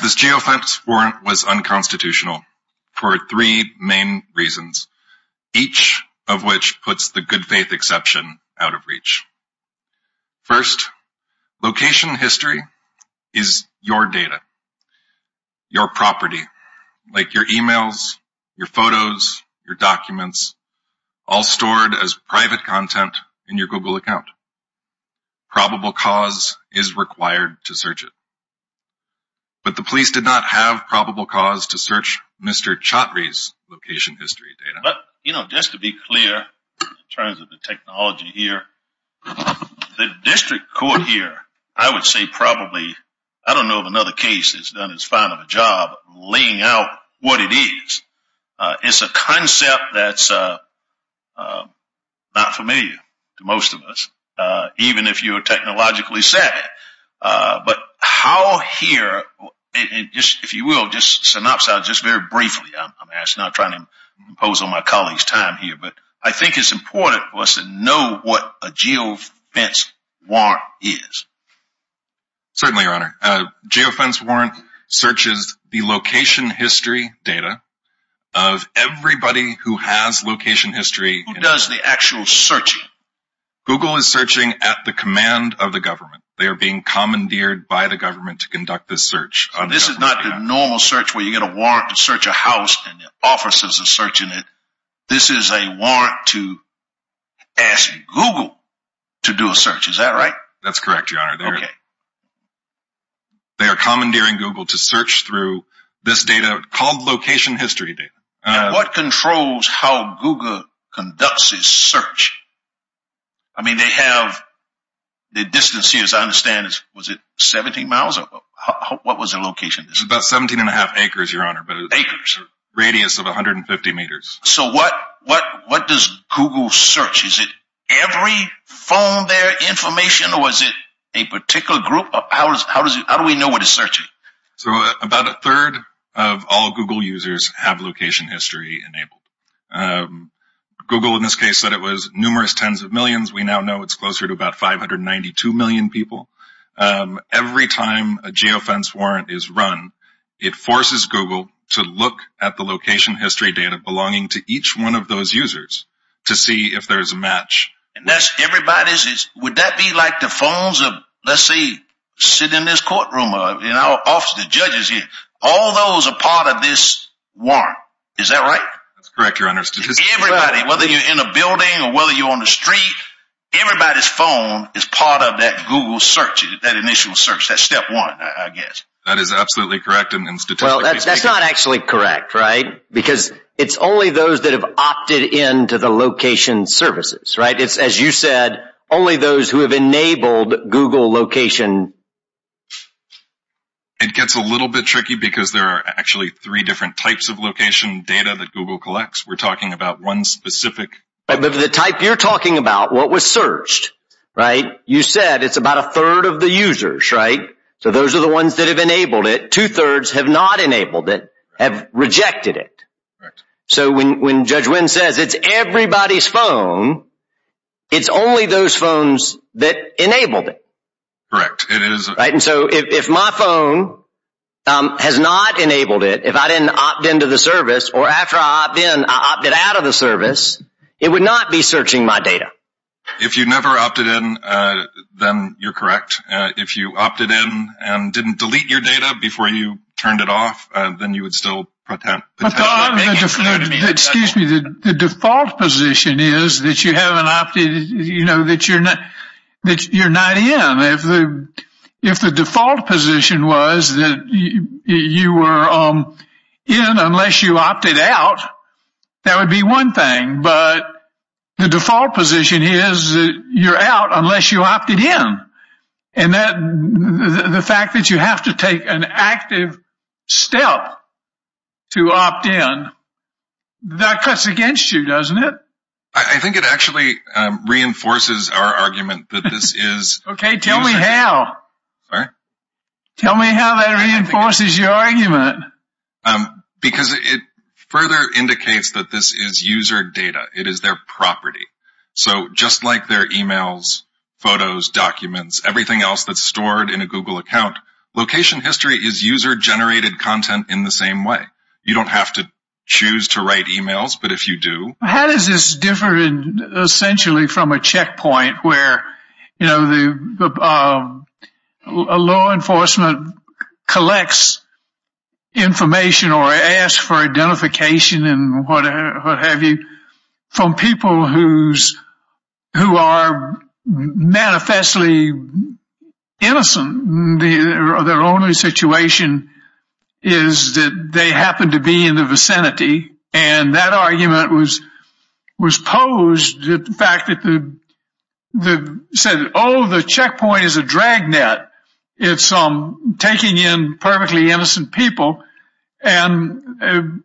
This geofence warrant was unconstitutional for three main reasons, each of which puts the your data, your property, like your emails, your photos, your documents, all stored as private content in your Google account. Probable cause is required to search it. But the police did not have probable cause to search Mr. Chatrie's location history data. But you know, just to be clear in terms of the technology here, the district court here, I would say probably, I don't know of another case that's done as fine of a job laying out what it is. It's a concept that's not familiar to most of us, even if you are technologically savvy. But how here, if you will, just synopsize, just very briefly, I'm asking, I'm trying to impose on my colleagues time here, but I think it's important for us to know what a geofence warrant is. Certainly, your honor, a geofence warrant searches the location history data of everybody who has location history. Who does the actual searching? Google is searching at the command of the government. They are being commandeered by the government to conduct this search. This is not the normal search where you get a warrant to search a house and the officers are searching it. This is a warrant to ask Google to do a search. Is that right? That's correct, your honor. They are commandeering Google to search through this data called location history data. What controls how Google conducts this search? I mean, they have the distance here, as I understand, was it 17 miles? What was the location? About 17 and a half acres, your honor, but it's a radius of 150 meters. So what does Google search? Is it every phone there, information, or is it a particular group? How do we know what it's searching? So about a third of all Google users have location history enabled. Google in this case said it was numerous tens of millions. We now know it's closer to about 592 million people. Every time a geofence warrant is run, it forces Google to look at the location history data belonging to each one of those users to see if there's a match. And that's everybody's, would that be like the phones of, let's say, sit in this courtroom or in our office, the judges here, all those are part of this warrant. Is that right? That's correct, your honor. Everybody, whether you're in a building or whether you're on the street, everybody's phone is part of that Google search, that initial search, that step one, I guess. That is absolutely correct. And statistically speaking. Well, that's not actually correct, right? Because it's only those that have opted into the location services, right? It's, as you said, only those who have enabled Google location. It gets a little bit tricky because there are actually three different types of location data that Google collects. We're talking about one specific. But the type you're talking about, what was searched, right? You said it's about a third of the users, right? So those are the ones that have enabled it. Two thirds have not enabled it, have rejected it. So when Judge Wynn says it's everybody's phone, it's only those phones that enabled it. Correct. It is. Right. And so if my phone has not enabled it, if I didn't opt into the service or after I opt it out of the service, it would not be searching my data. If you never opted in, then you're correct. If you opted in and didn't delete your data before you turned it off, then you would still pretend. Excuse me. The default position is that you haven't opted, you know, that you're not in. If the default position was that you were in unless you opted out, that would be one thing. But the default position is that you're out unless you opted in. And the fact that you have to take an active step to opt in, that cuts against you, doesn't it? I think it actually reinforces our argument that this is... Okay. Tell me how. Sorry? Tell me how that reinforces your argument. Because it further indicates that this is user data. It is their property. So just like their emails, photos, documents, everything else that's stored in a Google account, location history is user-generated content in the same way. You don't have to choose to write emails, but if you do... How does this differ, essentially, from a checkpoint where, you know, a law enforcement collects information or asks for identification and what have you from people who are manifestly innocent? Their only situation is that they happen to be in the vicinity. And that argument was posed at the fact that they said, oh, the checkpoint is a drag net. It's taking in perfectly innocent people. And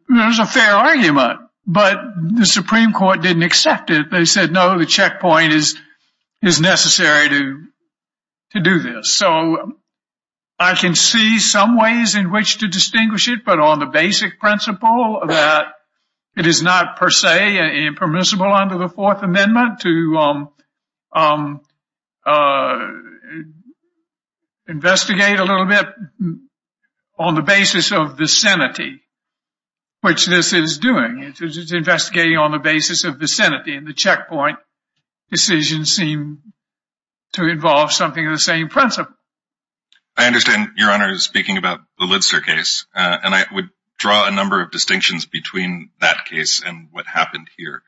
there's a fair argument. But the Supreme Court didn't accept it. They said, no, the checkpoint is necessary to do this. So, I can see some ways in which to distinguish it, but on the basic principle that it is not per se impermissible under the Fourth Amendment to investigate a little bit on the basis of vicinity, which this is doing. It's investigating on the basis of vicinity, and the checkpoint decisions seem to involve something of the same principle. I understand Your Honor is speaking about the Lidster case, and I would draw a number of distinctions between that case and what happened here.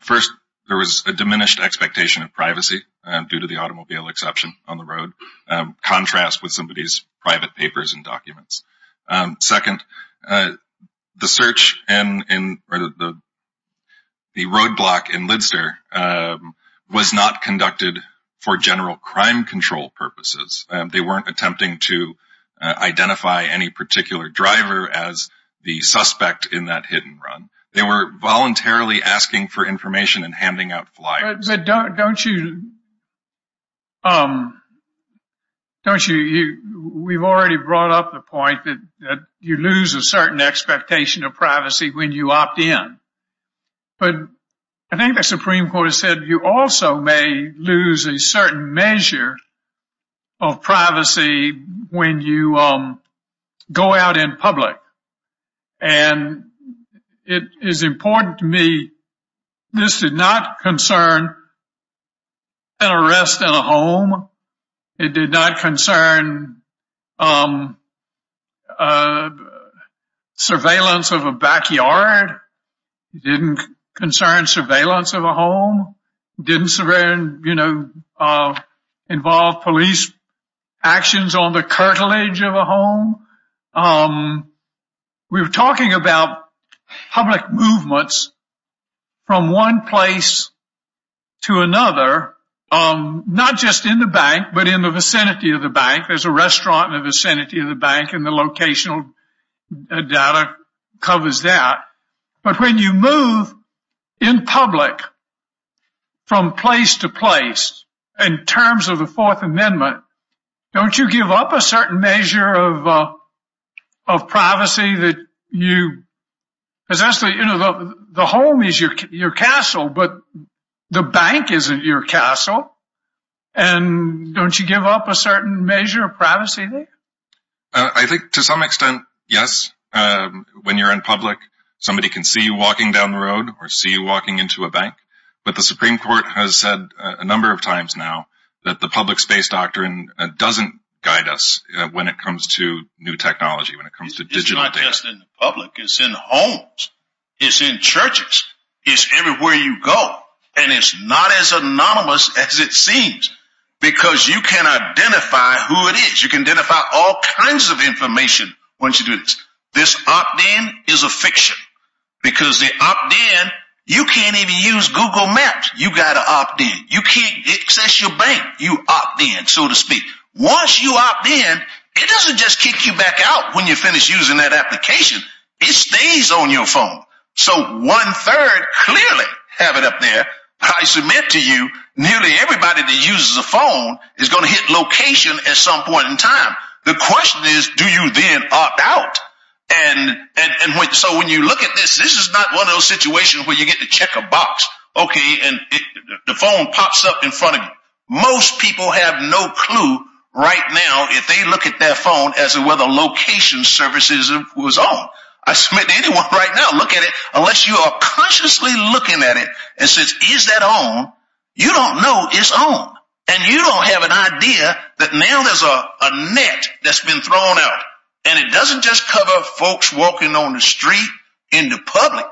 First, there was a diminished expectation of privacy due to the automobile exception on the road, contrast with somebody's private papers and documents. Second, the search and the roadblock in Lidster was not conducted for general crime control purposes. They weren't attempting to identify any particular driver as the suspect in that hit and run. They were voluntarily asking for information and handing out flyers. But don't you, don't you, we've already brought up the point that you lose a certain expectation of privacy when you opt in, but I think the Supreme Court has said you also may lose a certain measure of privacy when you go out in public, and it is important to me this is not concern an arrest in a home. It did not concern surveillance of a backyard. It didn't concern surveillance of a home. Didn't, you know, involve police actions on the cartilage of a home. We were talking about public movements from one place to another, not just in the bank, but in the vicinity of the bank. There's a restaurant in the vicinity of the bank, and the locational data covers that. But when you move in public from place to place, in terms of the Fourth Amendment, don't you give up a certain measure of privacy that you, essentially, you know, the home is your castle, but the bank isn't your castle. And don't you give up a certain measure of privacy there? I think to some extent, yes, when you're in public, somebody can see you walking down the road or see you walking into a bank. But the Supreme Court has said a number of times now that the public space doctrine doesn't guide us when it comes to new technology, when it comes to digital data. It's not just in the public. It's in homes. It's in churches. It's everywhere you go. And it's not as anonymous as it seems because you can identify who it is. You can identify all kinds of information once you do this. This opt-in is a fiction because the opt-in, you can't even use Google Maps. You got to opt-in. You can't access your bank. You opt-in, so to speak. Once you opt-in, it doesn't just kick you back out when you finish using that application. It stays on your phone. So one-third clearly have it up there. I submit to you, nearly everybody that uses a phone is going to hit location at some point in time. The question is, do you then opt out? And so when you look at this, this is not one of those situations where you get to check a box. Okay, and the phone pops up in front of you. Most people have no clue right now if they look at their phone as to whether location services was on. I submit to anyone right now, look at it, unless you are consciously looking at it and says, is that on? You don't know it's on. And you don't have an idea that now there's a net that's been thrown out. And it doesn't just cover folks walking on the street in the public.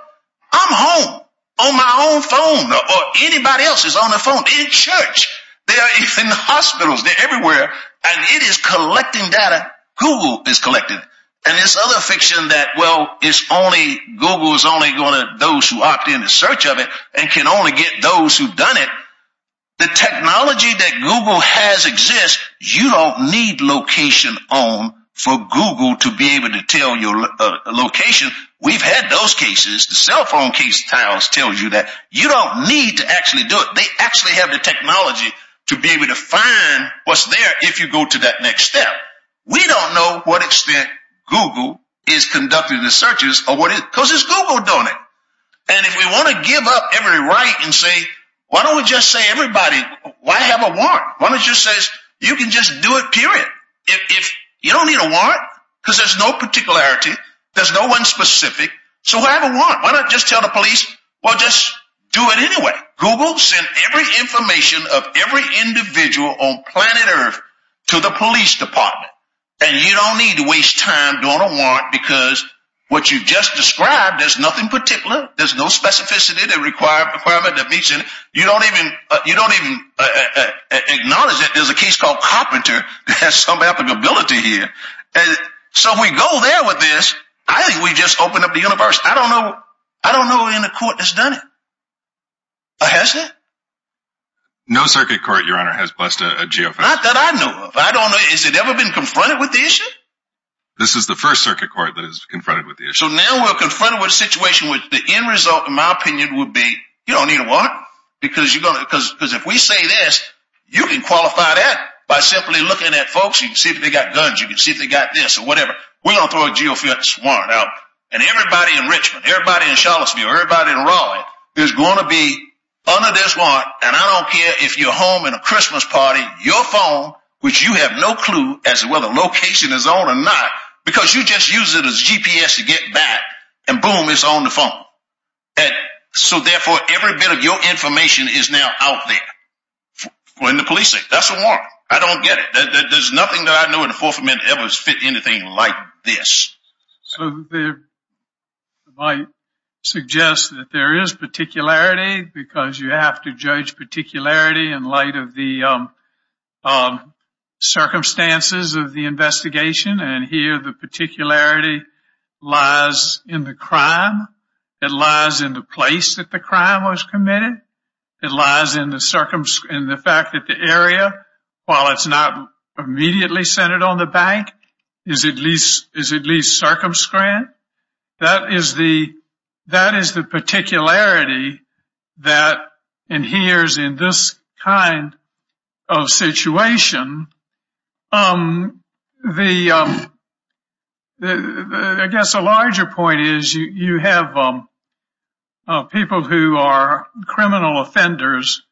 I'm home on my own phone or anybody else's on their phone. They're in church. They are even in hospitals. They're everywhere. And it is collecting data. Google is collecting. And this other fiction that, well, it's only, Google is only going to, those who opt-in to search of it and can only get those who've done it. The technology that Google has exists, you don't need location on for Google to be able to tell your location. We've had those cases, the cell phone case tiles tells you that you don't need to actually do it. They actually have the technology to be able to find what's there if you go to that next step. We don't know what extent Google is conducting the searches or what it, because it's Google doing it. And if we want to give up every right and say, why don't we just say everybody, why have a warrant? Why don't you say, you can just do it, period. If you don't need a warrant, because there's no particularity, there's no one specific. So why have a warrant? Why not just tell the police, well, just do it anyway. Google sent every information of every individual on planet Earth to the police department. And you don't need to waste time doing a warrant, because what you just described, there's nothing particular. There's no specificity that meets it. You don't even acknowledge that there's a case called Carpenter that has some applicability here. So we go there with this. I think we just opened up the universe. I don't know any court that's done it, has it? No circuit court, Your Honor, has blessed a geofence. Not that I know of. But I don't know, has it ever been confronted with the issue? This is the first circuit court that is confronted with the issue. So now we're confronted with a situation with the end result, in my opinion, would be, you don't need a warrant. Because if we say this, you can qualify that by simply looking at folks. You can see if they got guns. You can see if they got this or whatever. We're going to throw a geofence warrant out. And everybody in Richmond, everybody in Charlottesville, everybody in Raleigh is going to be under this warrant. And I don't care if you're home in a Christmas party, your phone, which you have no clue as to whether the location is on or not, because you just use it as GPS to get back. And boom, it's on the phone. And so therefore, every bit of your information is now out there in the policing. That's a warrant. I don't get it. There's nothing that I know in the Fourth Amendment ever has fit anything like this. So I might suggest that there is particularity, because you have to judge particularity in light of the circumstances of the investigation. And here, the particularity lies in the crime. It lies in the place that the crime was committed. It lies in the fact that the area, while it's not immediately centered on the bank, is at least circumscribed. That is the particularity that adheres in this kind of situation. I guess a larger point is you have people who are criminal offenders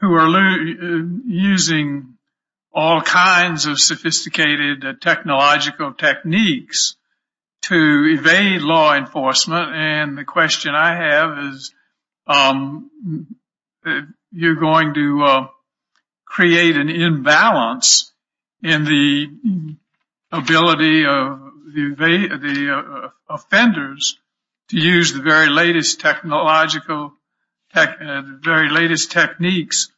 who are using all kinds of sophisticated technological techniques to evade law enforcement. And the question I have is, you're going to create an imbalance in the ability of the offenders to use the very latest technological, the very latest techniques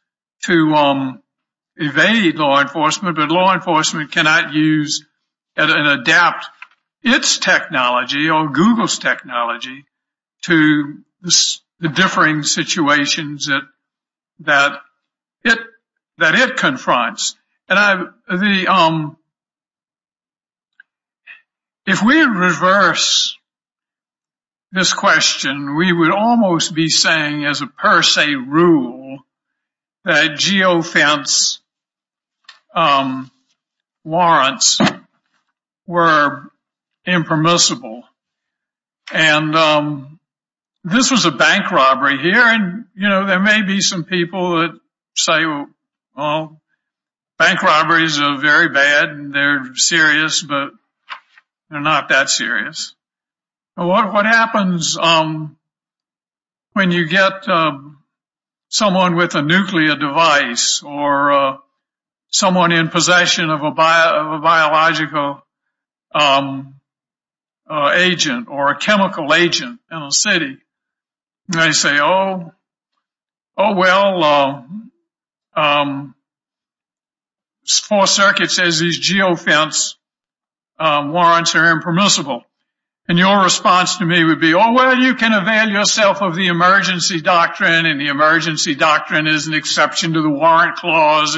to evade law enforcement. But law enforcement cannot use and adapt its technology or Google's technology to the differing situations that it confronts. And if we reverse this question, we would almost be saying, as a per se rule, that geofence warrants were impermissible. And this was a bank robbery here, and you know, there may be some people that say, well, bank robberies are very bad and they're serious, but they're not that serious. What happens when you get someone with a nuclear device or someone in possession of a biological agent or a chemical agent in a city? They say, oh, well, four circuits says these geofence warrants are impermissible. And your response to me would be, oh, well, you can avail yourself of the emergency doctrine. And the emergency doctrine is an exception to the warrant clause.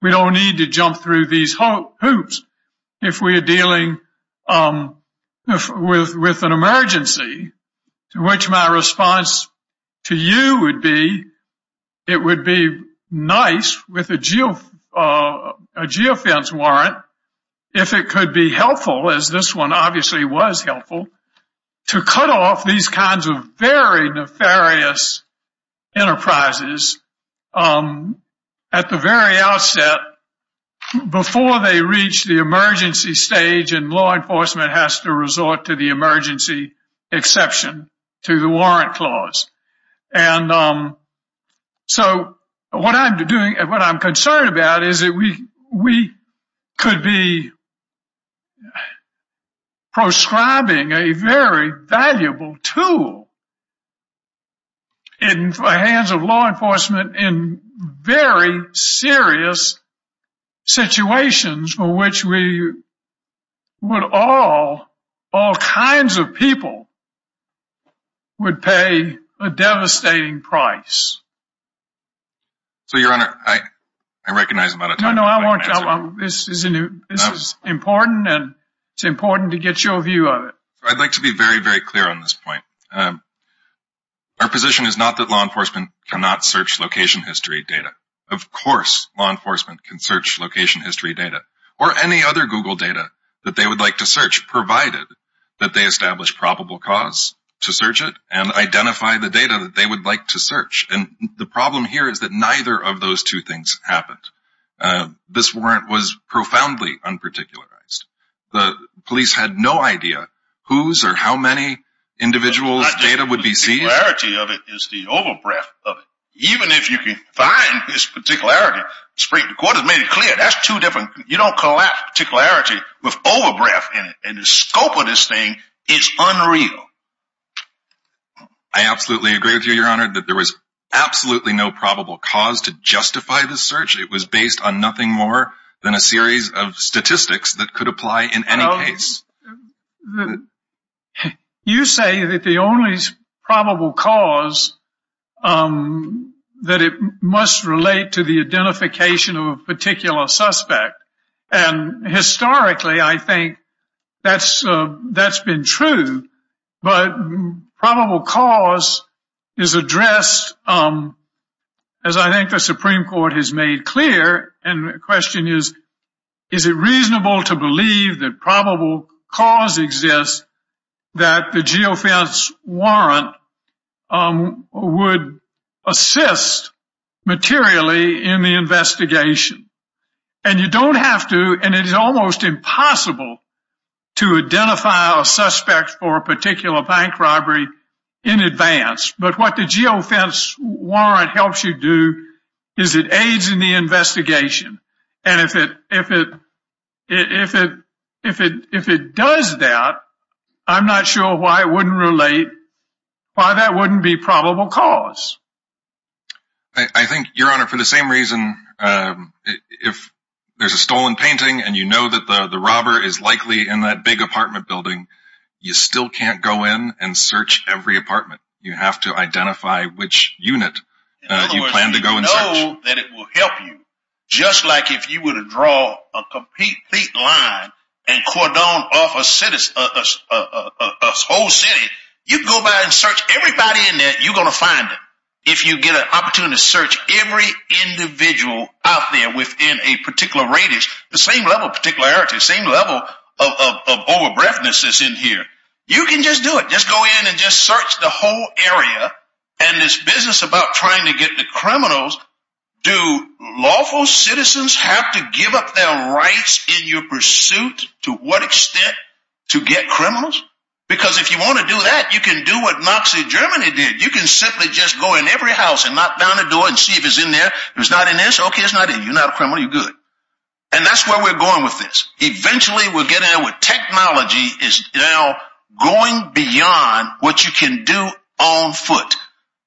We don't need to jump through these hoops if we are dealing with an emergency, to which my response to you would be, it would be nice with a geofence warrant if it could be helpful, as this one obviously was helpful, to cut off these kinds of very nefarious enterprises at the very outset before they reach the emergency stage and law enforcement has to resort to the emergency exception to the warrant clause. And so what I'm doing and what I'm concerned about is that we could be prescribing a very valuable tool in the hands of law enforcement in very serious situations for which we would all, all kinds of people would pay a devastating price. So, your honor, I recognize I'm out of time. No, no, I want, this is important and it's important to get your view of it. I'd like to be very, very clear on this point. Our position is not that law enforcement cannot search location history data. Of course law enforcement can search location history data or any other Google data that they would like to search, provided that they establish probable cause to search it and identify the data that they would like to search. And the problem here is that neither of those two things happened. This warrant was profoundly unparticularized. The police had no idea whose or how many individuals data would be seen. The particularity of it is the over breath of it. Even if you can find this particularity, the court has made it clear, that's two different, you don't call that particularity with over breath in it. And the scope of this thing is unreal. I absolutely agree with you, your honor, that there was absolutely no probable cause to justify the search. It was based on nothing more than a series of statistics that could apply in any case. You say that the only probable cause, that it must relate to the identification of a particular suspect. And historically I think that's been true, but probable cause is addressed, as I think the Supreme Court has made clear. And the question is, is it reasonable to believe that probable cause exists, that the geofence warrant would assist materially in the investigation? And you don't have to, and it is almost impossible to identify a suspect for a particular bank robbery in advance. But what the geofence warrant helps you do, is it aids in the investigation. And if it does that, I'm not sure why it wouldn't relate, why that wouldn't be probable cause. I think, your honor, for the same reason, if there's a stolen painting and you know that the robber is likely in that big apartment building, you still can't go in and search every apartment. You have to identify which unit you plan to go and search. In other words, you know that it will help you, just like if you were to draw a complete line and cordon off a whole city, you can go by and search everybody in there, you're going to find it. If you get an opportunity to search every individual out there within a particular radius, the same level of particularity, the same level of over-breathness is in here. You can just do it, just go in and just search the whole area, and this business about trying to get the criminals, do lawful citizens have to give up their rights in your pursuit to what extent to get criminals? Because if you want to do that, you can do what Nazi Germany did, you can simply just go in every house and knock down the door and see if it's in there, if it's not in there, okay it's not in, you're not a criminal, you're good. And that's where we're going with this, eventually we're getting to where technology is now going beyond what you can do on foot.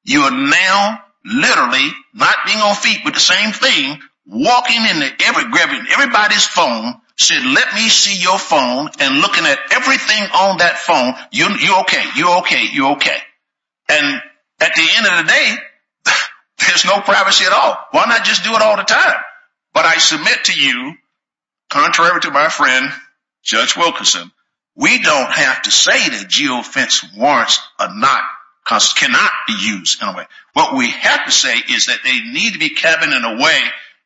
You are now literally not being on feet with the same thing, walking in there, grabbing everybody's phone, saying let me see your phone, and looking at everything on that phone, you're okay, you're okay, you're okay. And at the end of the day, there's no privacy at all, why not just do it all the time? But I submit to you, contrary to my friend, Judge Wilkinson, we don't have to say that geofence warrants cannot be used in a way, what we have to say is that they need to be kept in a way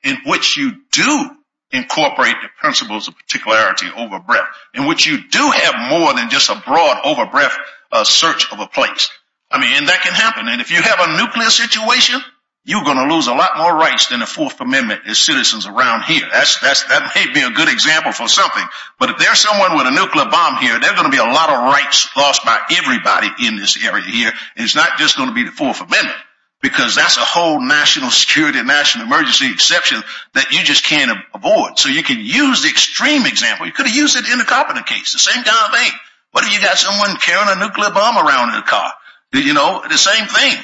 in which you do incorporate the principles of particularity over-breath, in which you do have more than just a broad over-breath search of a place. I mean, and that can happen, and if you have a nuclear situation, you're going to lose a lot more rights than the 4th Amendment as citizens around here. That may be a good example for something, but if there's someone with a nuclear bomb here, there's going to be a lot of rights lost by everybody in this area here, and it's not just going to be the 4th Amendment, because that's a whole national security, national emergency exception that you just can't avoid. So you can use the extreme example, you could have used it in the Carpenter case, the same kind of thing, but if you've got someone carrying a nuclear bomb around in a car, you know, the same thing.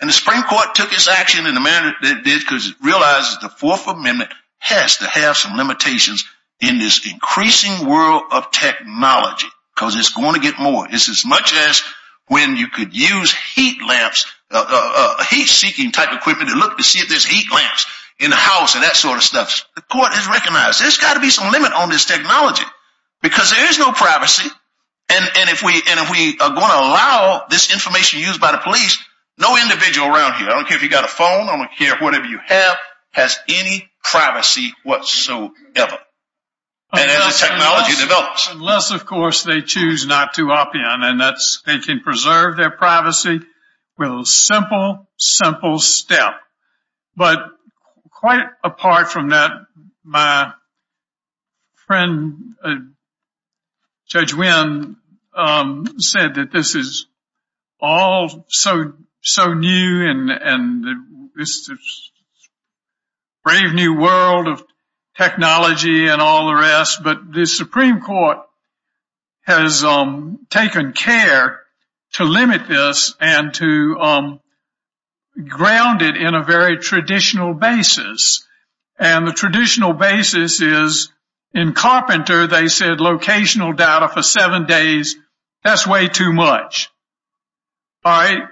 And the Supreme Court took its action in the manner that it did because it realizes the 4th Amendment has to have some limitations in this increasing world of technology, because it's going to get more. It's as much as when you could use heat lamps, heat-seeking type equipment to look to see if there's heat lamps in the house and that sort of stuff. The court has recognized there's got to be some limit on this technology, because there is no privacy, and if we are going to allow this information used by the police, no individual around here, I don't care if you've got a phone, I don't care whatever you have, has any privacy whatsoever. Unless, of course, they choose not to op-in, and that's, they can preserve their privacy with a simple, simple step, but quite apart from that, my friend, Judge Wynn, said that this is all so new and it's a brave new world of technology, and all the rest, but the Supreme Court has taken care to limit this and to ground it in a very traditional basis, and the traditional basis is, in Carpenter, they said locational data for seven days, that's way too much. All right,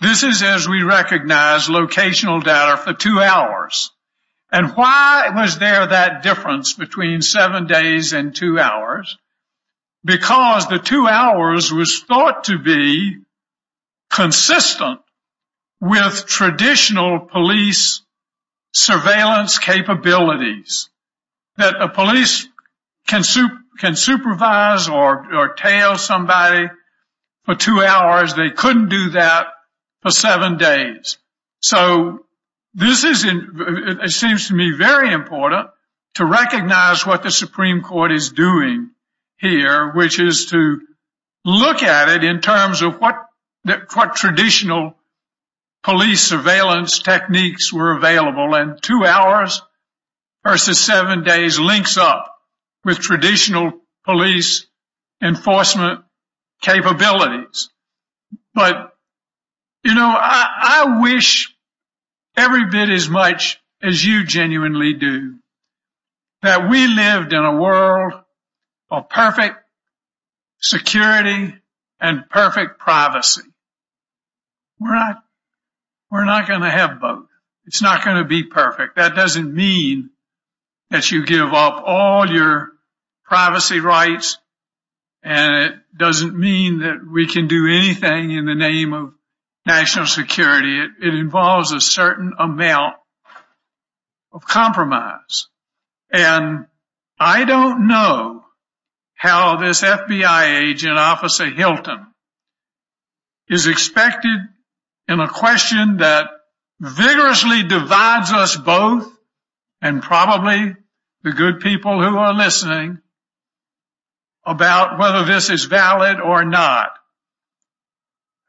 this is as we recognize locational data for two hours, and why was there that difference between seven days and two hours? Because the two hours was thought to be consistent with traditional police surveillance capabilities, that a police can supervise or tail somebody for two hours, they couldn't do that for seven days. So, this is, it seems to me, very important to recognize what the Supreme Court is doing here, which is to look at it in terms of what traditional police surveillance techniques were available, and two hours versus seven days links up with traditional police enforcement capabilities. But, you know, I wish every bit as much as you genuinely do, that we lived in a world of perfect security and perfect privacy. We're not, we're not going to have both. It's not going to be perfect. That doesn't mean that you give up all your privacy rights, and it doesn't mean that we can do anything in the name of national security. It involves a certain amount of compromise, and I don't know how this FBI agent, Officer Hilton, is expected in a question that vigorously divides us both, and probably the good people who are listening, about whether this is valid or not.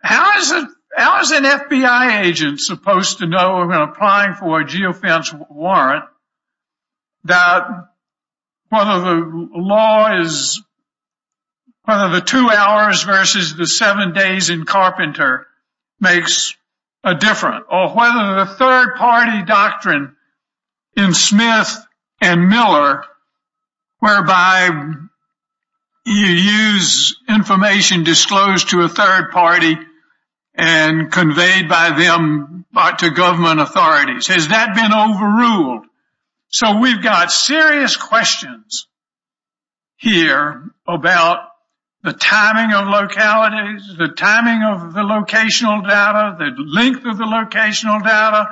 How is an FBI agent supposed to know when applying for a geofence warrant that whether the law is, whether the two hours versus the seven days in Carpenter makes a difference, or whether the third party doctrine in Smith and Miller, whereby you use information disclosed to a third party and conveyed by them to government authorities. Has that been overruled? So we've got serious questions here about the timing of localities, the timing of the locational data, the length of the locational data,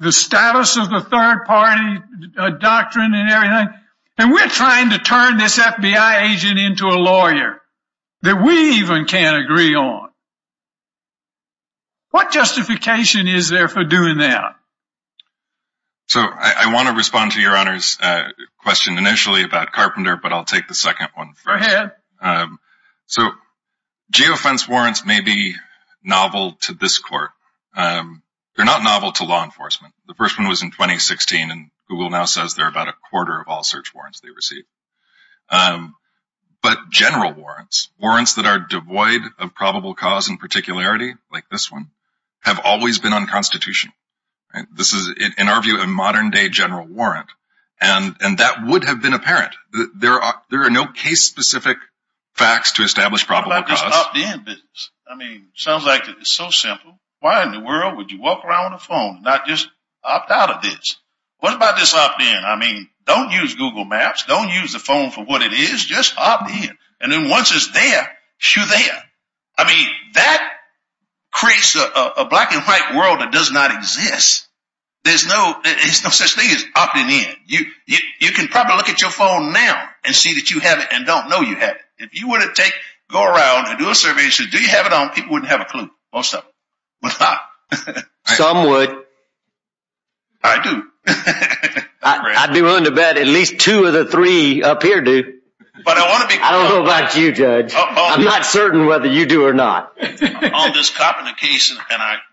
the status of the third party doctrine and everything. And we're trying to turn this FBI agent into a lawyer that we even can't agree on. What justification is there for doing that? So I want to respond to your Honor's question initially about Carpenter, but I'll take the second one first. So geofence warrants may be novel to this court. They're not novel to law enforcement. The first one was in 2016, and Google now says they're about a quarter of all search warrants they receive. But general warrants, warrants that are devoid of probable cause and particularity, like this one, have always been unconstitutional. This is, in our view, a modern-day general warrant, and that would have been apparent. There are no case-specific facts to establish probable cause. I mean, it sounds like it's so simple. Why in the world would you walk around with a phone and not just opt out of this? What about this opt-in? I mean, don't use Google Maps. Don't use the phone for what it is. Just opt in. And then once it's there, shoo there. I mean, that creates a black-and-white world that does not exist. There's no such thing as opting in. You can probably look at your phone now and see that you have it and don't know you have it. If you were to go around and do a survey and say, do you have it on, people wouldn't have a clue. Most of them would not. Some would. I do. I'd be willing to bet at least two of the three up here do. I don't know about you, Judge. I'm not certain whether you do or not. On this Carpenter case, and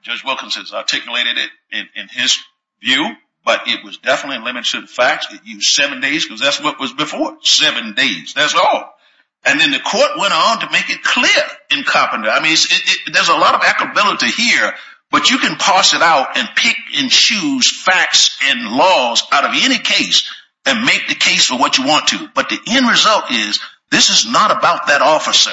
Judge Wilkins has articulated it in his view, but it was definitely limited to the facts. It used seven days because that's what it was before. Seven days. That's all. And then the court went on to make it clear in Carpenter. I mean, there's a lot of equability here, but you can parse it out and pick and choose facts and laws out of any case and make the case for what you want to. But the end result is this is not about that officer.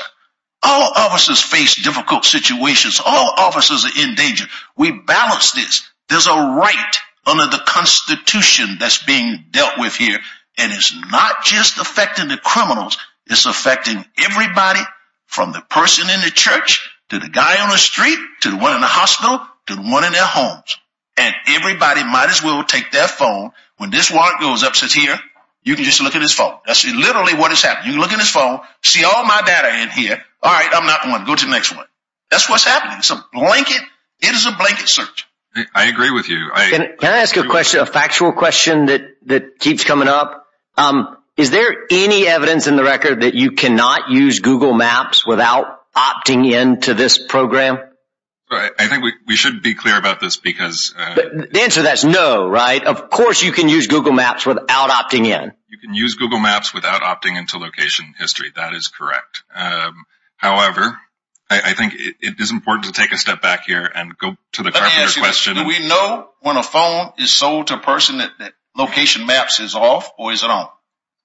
All officers face difficult situations. All officers are in danger. We balance this. There's a right under the Constitution that's being dealt with here. And it's not just affecting the criminals. It's affecting everybody from the person in the church to the guy on the street to the one in the hospital to the one in their homes. And everybody might as well take their phone. When this warrant goes up, you can just look at his phone. That's literally what has happened. You look at his phone, see all my data in here. All right, I'm not going to go to the next one. That's what's happening. It's a blanket search. I agree with you. Can I ask a factual question that keeps coming up? Is there any evidence in the record that you cannot use Google Maps without opting in to this program? I think we should be clear about this because... The answer to that is no, right? Of course you can use Google Maps without opting in. You can use Google Maps without opting into location history. That is correct. However, I think it is important to take a step back here and go to the question... Let me ask you this. Do we know when a phone is sold to a person that location maps is off or is it on?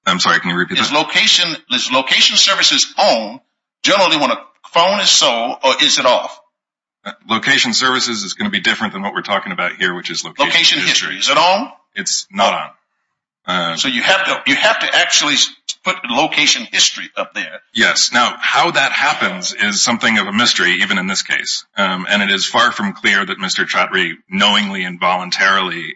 I'm sorry, can you repeat that? Is location services on generally when a phone is sold or is it off? Location services is going to be different than what we're talking about here, which is location history. Is it on? It's not on. So you have to actually put location history up there. Yes, now how that happens is something of a mystery even in this case. And it is far from clear that Mr. Chaudhry knowingly and voluntarily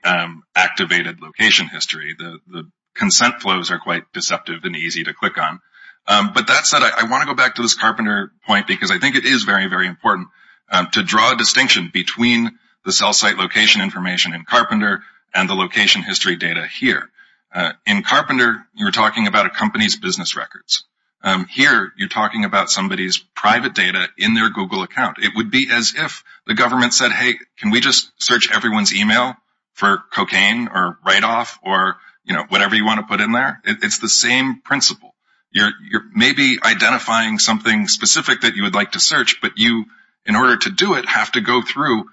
activated location history. The consent flows are quite deceptive and easy to click on. But that said, I want to go back to this Carpenter point because I think it is very, very important to draw a distinction between the cell site location information in Carpenter and the location history data here. In Carpenter, you're talking about a company's business records. Here, you're talking about somebody's private data in their Google account. It would be as if the government said, hey, can we just search everyone's email for cocaine or write-off or whatever you want to put in there? It's the same principle. You're maybe identifying something specific that you would like to search, but you, in order to do it, have to go through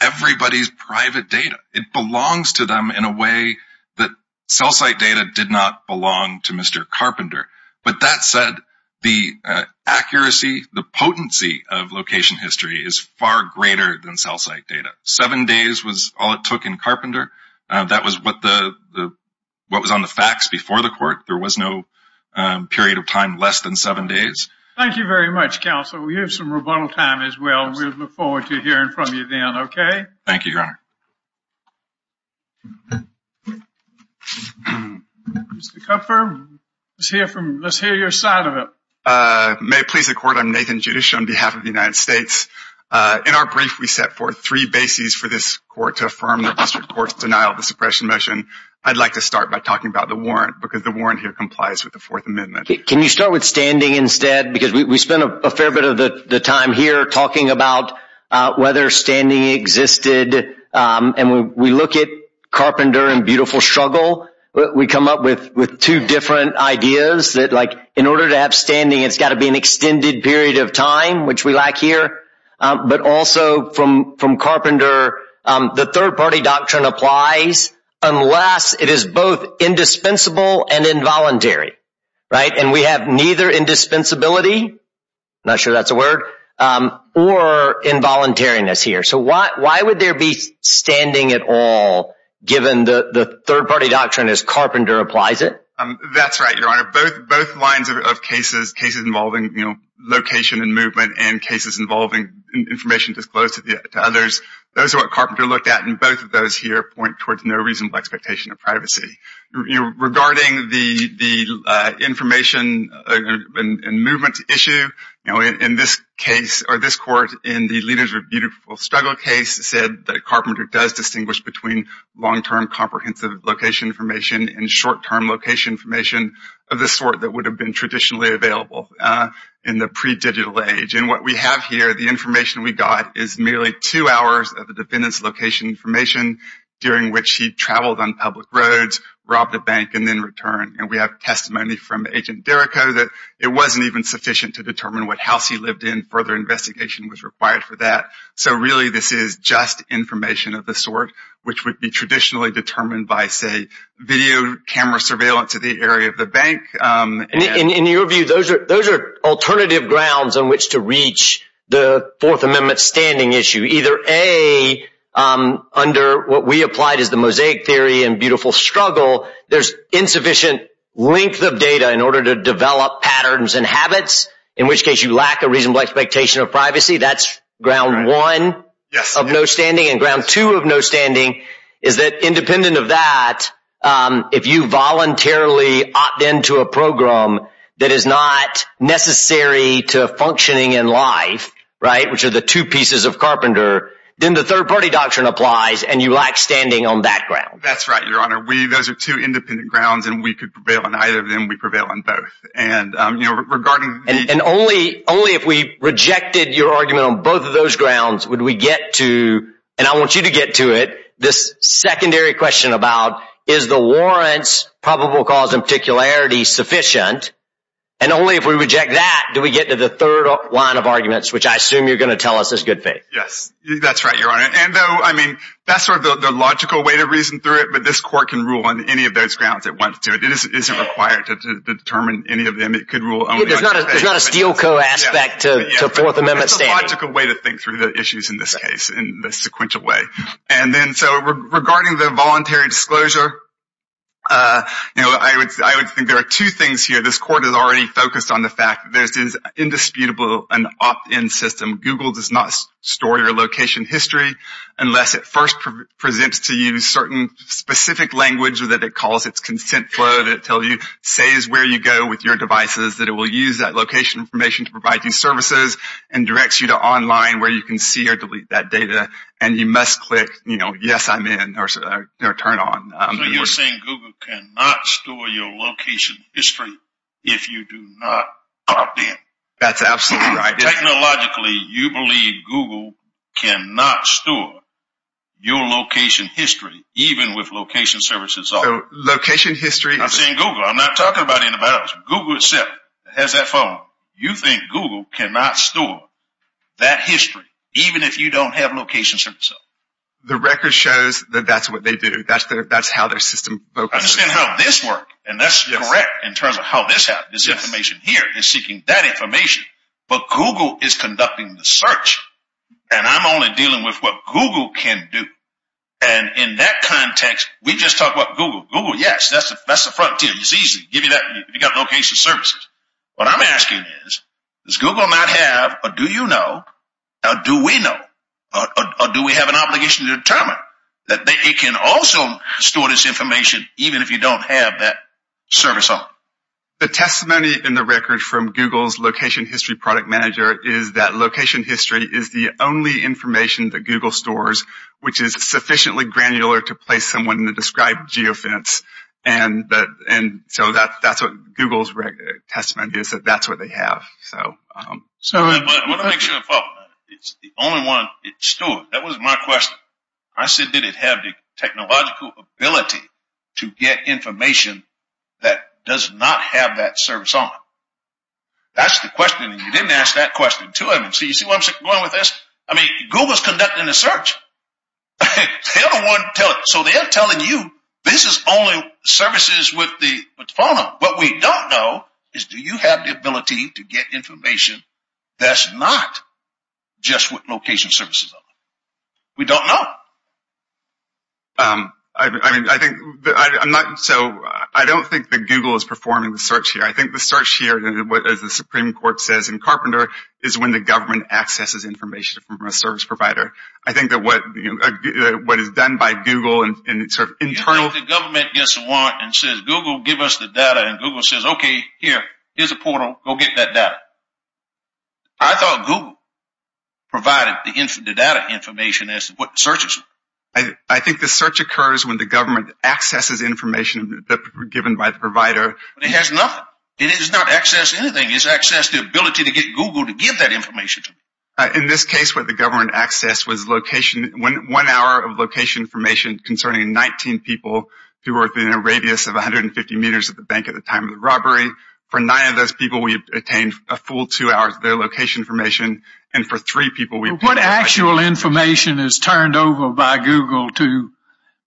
everybody's private data. It belongs to them in a way that cell site data did not belong to Mr. Carpenter. But that said, the accuracy, the potency of location history is far greater than cell site data. Seven days was all it took in Carpenter. That was what was on the fax before the court. There was no period of time less than seven days. Thank you very much, Counsel. We have some rebuttal time as well. We look forward to hearing from you then, okay? Thank you, Your Honor. Mr. Kupfer, let's hear your side of it. May it please the Court, I'm Nathan Judish on behalf of the United States. In our brief, we set forth three bases for this court to affirm the district court's denial of the suppression motion. I'd like to start by talking about the warrant because the warrant here complies with the Fourth Amendment. Can you start with standing instead? Because we spent a fair bit of the time here talking about whether standing existed. And we look at Carpenter and beautiful struggle. We come up with two different ideas that, like, in order to have standing, it's got to be an extended period of time, which we lack here. But also from Carpenter, the third-party doctrine applies unless it is both indispensable and involuntary, right? And we have neither indispensability, not sure that's a word, or involuntariness here. So why would there be standing at all given the third-party doctrine as Carpenter applies it? That's right, Your Honor. Both lines of cases, cases involving location and movement and cases involving information disclosed to others, those are what Carpenter looked at. And both of those here point towards no reasonable expectation of privacy. Regarding the information and movement issue, in this case, or this court, in the leaders of beautiful struggle case, it said that Carpenter does distinguish between long-term comprehensive location information and short-term location information of the sort that would have been traditionally available in the pre-digital age. And what we have here, the information we got, is merely two hours of the defendant's location information during which he traveled on public roads, robbed a bank, and then returned. And we have testimony from Agent Derrico that it wasn't even sufficient to determine what house he lived in. Further investigation was required for that. So really, this is just information of the sort, which would be traditionally determined by, say, video camera surveillance of the area of the bank. And in your view, those are alternative grounds on which to reach the Fourth Amendment standing issue. Either, A, under what we applied as the mosaic theory in beautiful struggle, there's insufficient length of data in order to develop patterns and habits, in which case you lack a reasonable expectation of privacy. That's ground one of no standing. And ground two of no standing is that, independent of that, if you voluntarily opt into a program that is not necessary to functioning in life, right, which are the two pieces of Carpenter, then the third-party doctrine applies, and you lack standing on that ground. That's right, Your Honor. Those are two independent grounds, and we could prevail on either of them. We prevail on both. And only if we rejected your argument on both of those grounds would we get to, and I want you to get to it, this secondary question about, is the warrants, probable cause, and particularity sufficient? And only if we reject that do we get to the third line of arguments, which I assume you're going to tell us is good faith. Yes, that's right, Your Honor. And though, I mean, that's sort of the logical way to reason through it, but this court can rule on any of those grounds it wants to. It isn't required to determine any of them. It could rule only on faith. It's not a steel-co aspect to Fourth Amendment standing. It's a logical way to think through the issues in this case, in the sequential way. And then, so regarding the voluntary disclosure, you know, I would think there are two things here. This court is already focused on the fact that there's this indisputable and opt-in system. Google does not store your location history unless it first presents to you certain specific language that it calls its consent flow that tells you, say, is where you go with your devices, that it will use that location information to provide you services and directs you to online where you can see or delete that data. And you must click, you know, yes, I'm in or turn on. So you're saying Google cannot store your location history if you do not opt-in? That's absolutely right. Technologically, you believe Google cannot store your location history even with location services off? Location history. I'm saying Google. I'm not talking about anybody else. Google itself has that following. You think Google cannot store that history even if you don't have location services off? The record shows that that's what they do. That's how their system focuses. I understand how this works. And that's correct in terms of how this happens. This information here is seeking that information. But Google is conducting the search, and I'm only dealing with what Google can do. And in that context, we just talk about Google. Google, yes, that's the front tier. It's easy. Give you that. You've got location services. What I'm asking is, does Google not have, or do you know, or do we know, or do we have an obligation to determine that it can also store this information even if you don't have that service on? The testimony in the record from Google's location history product manager is that location history is the only information that Google stores, which is sufficiently granular to place someone in the described geofence. And so that's what Google's testimony is, that that's what they have. I want to make sure it's the only one it stores. That was my question. I said, did it have the technological ability to get information that does not have that service on? That's the question, and you didn't ask that question to them. So you see where I'm going with this? I mean, Google's conducting the search. They're the one telling it. So they're telling you this is only services with the phone number. What we don't know is do you have the ability to get information that's not just with location services on? We don't know. So I don't think that Google is performing the search here. I think the search here, as the Supreme Court says in Carpenter, is when the government accesses information from a service provider. I think that what is done by Google in sort of internal – The government gets a warrant and says, Google, give us the data, and Google says, okay, here, here's a portal. Go get that data. I thought Google provided the data information as to what the search is for. I think the search occurs when the government accesses information given by the provider. It has nothing. It does not access anything. It's accessed the ability to get Google to give that information to them. In this case where the government accessed was one hour of location information concerning 19 people who were within a radius of 150 meters of the bank at the time of the robbery. For nine of those people, we obtained a full two hours of their location information. And for three people – What actual information is turned over by Google to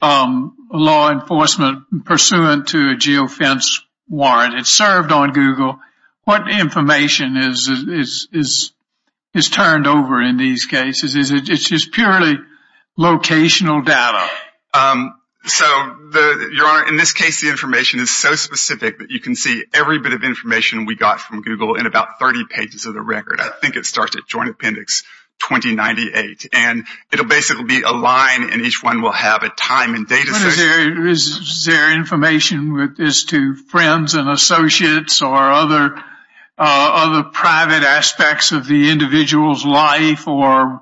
law enforcement pursuant to a geofence warrant? It's served on Google. What information is turned over in these cases? It's just purely locational data. So, Your Honor, in this case, the information is so specific that you can see every bit of information we got from Google in about 30 pages of the record. I think it starts at Joint Appendix 2098. And it will basically be a line, and each one will have a time and date associated – Is there information as to friends and associates or other private aspects of the individual's life or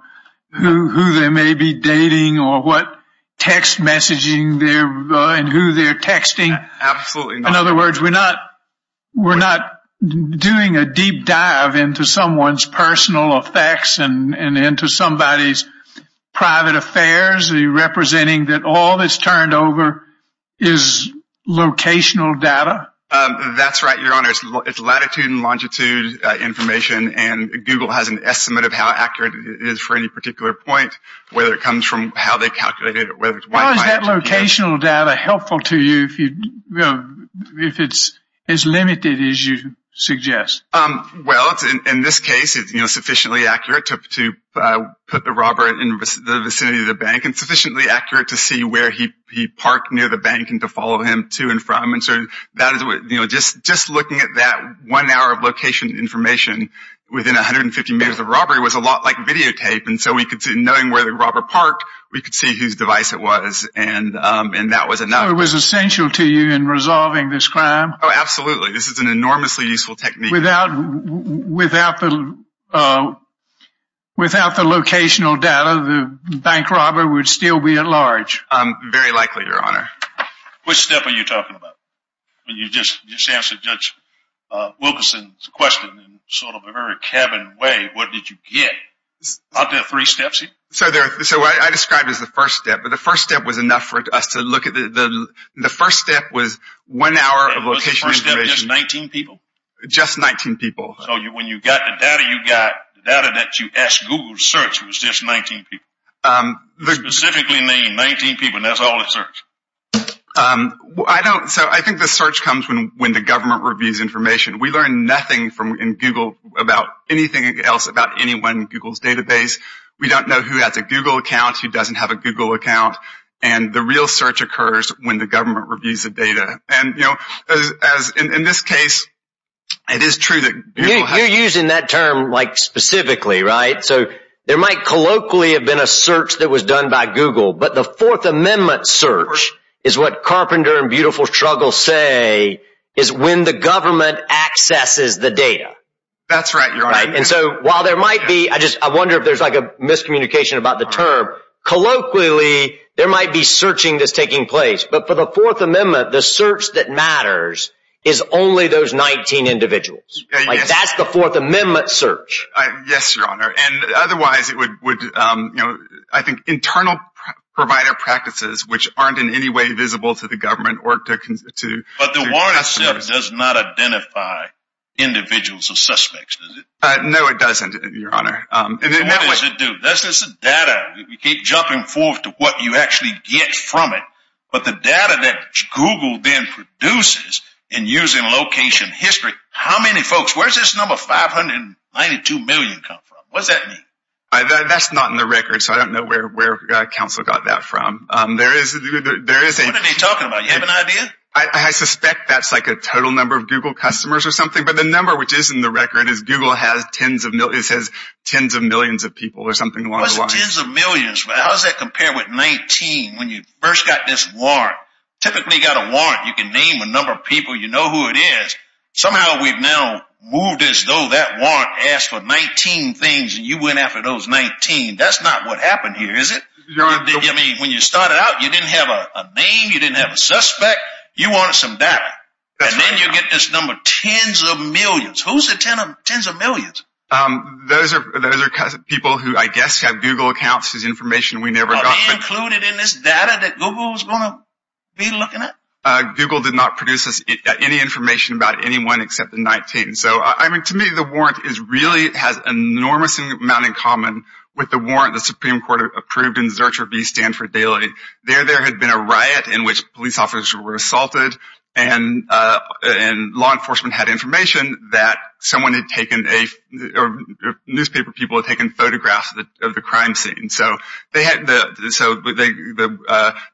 who they may be dating or what text messaging and who they're texting? Absolutely not. In other words, we're not doing a deep dive into someone's personal effects and into somebody's private affairs. Are you representing that all that's turned over is locational data? That's right, Your Honor. It's latitude and longitude information. And Google has an estimate of how accurate it is for any particular point, whether it comes from how they calculated it. Why is that locational data helpful to you if it's as limited as you suggest? Well, in this case, it's sufficiently accurate to put the robber in the vicinity of the bank and sufficiently accurate to see where he parked near the bank and to follow him to and from. Just looking at that one hour of location information within 150 meters of robbery was a lot like videotape. And so knowing where the robber parked, we could see whose device it was, and that was enough. So it was essential to you in resolving this crime? Oh, absolutely. This is an enormously useful technique. Without the locational data, the bank robber would still be at large? Very likely, Your Honor. Which step are you talking about? You just answered Judge Wilkerson's question in sort of a very cabin way. What did you get? Aren't there three steps here? So what I described as the first step, but the first step was enough for us to look at it. The first step was one hour of location information. Was the first step just 19 people? Just 19 people. So when you got the data you got, the data that you asked Google to search was just 19 people? Specifically 19 people, and that's all it searched? I don't, so I think the search comes when the government reviews information. We learn nothing in Google about anything else about anyone in Google's database. We don't know who has a Google account, who doesn't have a Google account. And the real search occurs when the government reviews the data. And, you know, as in this case, it is true that Google has You're using that term like specifically, right? So there might colloquially have been a search that was done by Google. But the Fourth Amendment search is what Carpenter and Beautiful Struggle say is when the government accesses the data. That's right, Your Honor. And so while there might be, I just, I wonder if there's like a miscommunication about the term. Colloquially, there might be searching that's taking place. But for the Fourth Amendment, the search that matters is only those 19 individuals. Like that's the Fourth Amendment search. Yes, Your Honor. And otherwise it would, you know, I think internal provider practices, which aren't in any way visible to the government or to But the warrant itself does not identify individuals or suspects, does it? No, it doesn't, Your Honor. What does it do? That's just the data. We keep jumping forward to what you actually get from it. But the data that Google then produces and using location history, how many folks, where does this number 592 million come from? What does that mean? That's not in the record, so I don't know where counsel got that from. There is a What are they talking about? You have an idea? I suspect that's like a total number of Google customers or something. But the number which is in the record is Google has tens of millions, it says tens of millions of people or something along the lines. What's the tens of millions? How does that compare with 19 when you first got this warrant? Typically you got a warrant, you can name a number of people, you know who it is. Somehow we've now moved as though that warrant asked for 19 things and you went after those 19. That's not what happened here, is it? Your Honor. When you started out, you didn't have a name, you didn't have a suspect, you wanted some data. And then you get this number tens of millions. Who's the tens of millions? Those are people who I guess have Google accounts as information we never got. Are they included in this data that Google is going to be looking at? Google did not produce any information about anyone except the 19. To me, the warrant really has an enormous amount in common with the warrant the Supreme Court approved in Zurcher v. Stanford Daily. There had been a riot in which police officers were assaulted and law enforcement had information that someone had taken, newspaper people had taken photographs of the crime scene. The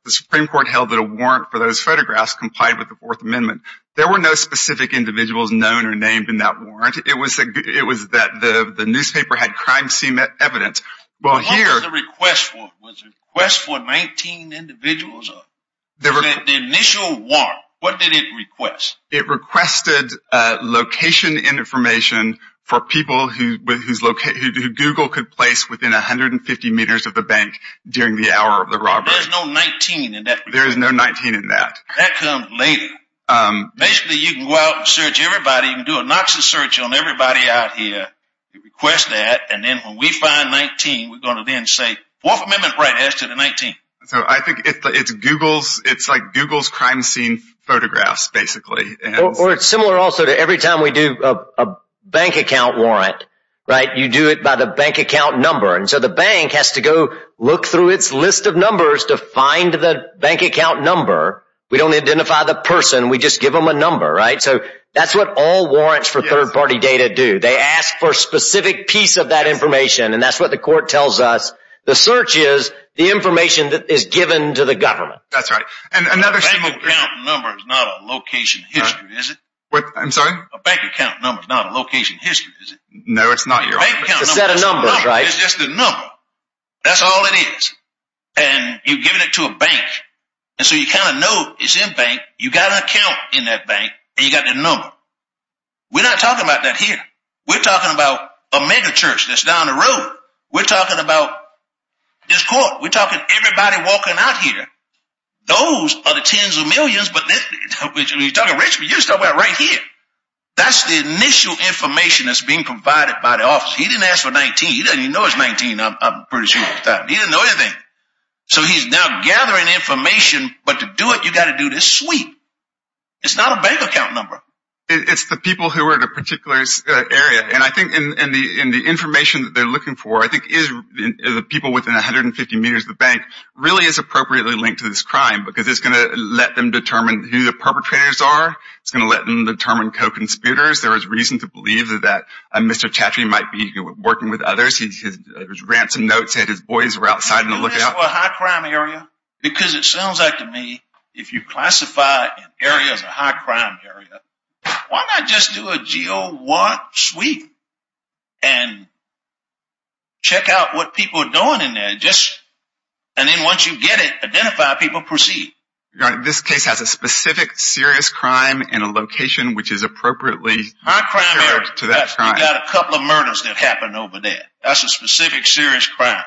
Supreme Court held that a warrant for those photographs complied with the Fourth Amendment. There were no specific individuals known or named in that warrant. It was that the newspaper had crime scene evidence. What was the request for? Was the request for 19 individuals? The initial warrant, what did it request? It requested location information for people who Google could place within 150 meters of the bank during the hour of the robbery. There is no 19 in that? There is no 19 in that. That comes later. Basically, you can go out and search everybody. You can do a Knoxon search on everybody out here. You request that, and then when we find 19, we're going to then say Fourth Amendment right as to the 19. I think it's like Google's crime scene photographs, basically. Or it's similar also to every time we do a bank account warrant. You do it by the bank account number, and so the bank has to go look through its list of numbers to find the bank account number. We don't identify the person. We just give them a number. That's what all warrants for third-party data do. They ask for a specific piece of that information, and that's what the court tells us. The search is the information that is given to the government. That's right. A bank account number is not a location history, is it? I'm sorry? A bank account number is not a location history, is it? No, it's not. It's a set of numbers, right? It's just a number. That's all it is, and you've given it to a bank, and so you kind of know it's in bank. You've got an account in that bank, and you've got that number. We're not talking about that here. We're talking about a megachurch that's down the road. We're talking about this court. We're talking everybody walking out here. Those are the tens of millions. You're talking rich, but you're talking about right here. That's the initial information that's being provided by the office. He didn't ask for 19. He doesn't even know it's 19. I'm pretty sure. He doesn't know anything. So he's now gathering information, but to do it, you've got to do this sweep. It's not a bank account number. It's the people who are in a particular area, and I think in the information that they're looking for, I think the people within 150 meters of the bank really is appropriately linked to this crime because it's going to let them determine who the perpetrators are. It's going to let them determine co-conspirators. There is reason to believe that Mr. Chaffee might be working with others. His ransom notes said his boys were outside on the lookout. Do this for a high-crime area because it sounds like to me if you classify an area as a high-crime area, why not just do a G01 sweep and check out what people are doing in there, and then once you get it, identify people and proceed. This case has a specific serious crime in a location which is appropriately compared to that crime. High-crime area. You've got a couple of murders that happened over there. That's a specific serious crime.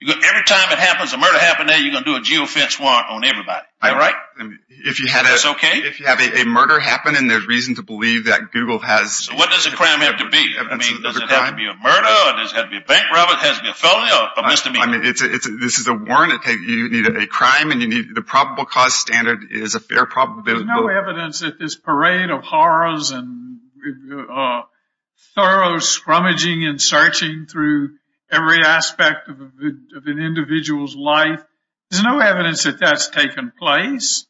Every time a murder happens there, you're going to do a geofence warrant on everybody. Is that right? Is that okay? If you have a murder happen and there's reason to believe that Google has… So what does the crime have to be? Does it have to be a murder? Does it have to be a bank robber? Does it have to be a felon? I mean, this is a warrant. You need a crime and you need the probable cause standard is a fair probability. There's no evidence that this parade of horrors and thorough scrummaging and searching through every aspect of an individual's life, there's no evidence that that's taken place.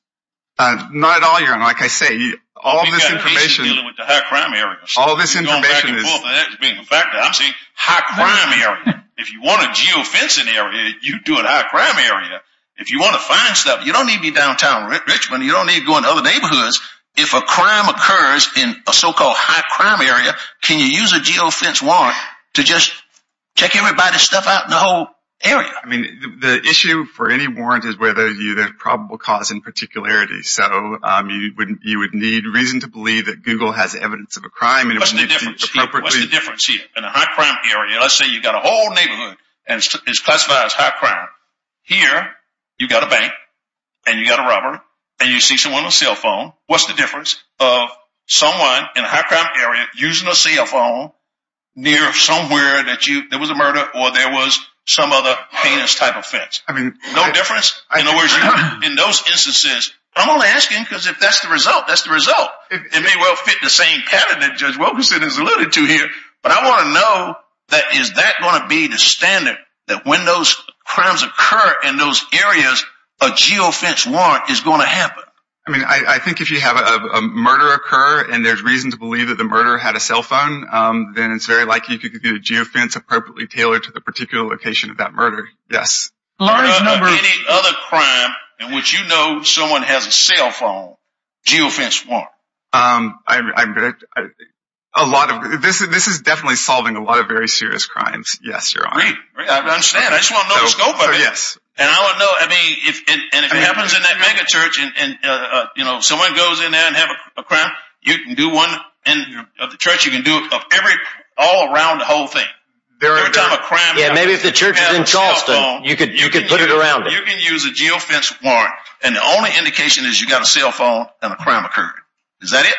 Not at all, Your Honor. Like I say, all this information… We've got a patient dealing with a high-crime area. All this information is… I'm saying high-crime area. If you want a geofencing area, you do a high-crime area. If you want to find stuff, you don't need to be downtown Richmond. You don't need to go into other neighborhoods. If a crime occurs in a so-called high-crime area, can you use a geofence warrant to just check everybody's stuff out in the whole area? I mean, the issue for any warrant is whether there's probable cause in particularity. You would need reason to believe that Google has evidence of a crime. What's the difference here in a high-crime area? Let's say you've got a whole neighborhood and it's classified as high-crime. Here, you've got a bank and you've got a robber and you see someone on a cell phone. What's the difference of someone in a high-crime area using a cell phone near somewhere that there was a murder or there was some other heinous type offense? No difference? In those instances, I'm only asking because if that's the result, that's the result. It may well fit the same pattern that Judge Wilkerson has alluded to here, but I want to know that is that going to be the standard that when those crimes occur in those areas, a geofence warrant is going to happen? I mean, I think if you have a murder occur and there's reason to believe that the murderer had a cell phone, then it's very likely you could get a geofence appropriately tailored to the particular location of that murder. Any other crime in which you know someone has a cell phone, geofence warrant? This is definitely solving a lot of very serious crimes, yes, Your Honor. Great. I understand. I just want to know the scope of it. And I want to know, I mean, if it happens in that megachurch and someone goes in there and has a crime, you can do one in the church, you can do it all around the whole thing. Yeah, maybe if the church is in Charleston, you could put it around it. You can use a geofence warrant, and the only indication is you got a cell phone and a crime occurred. Is that it?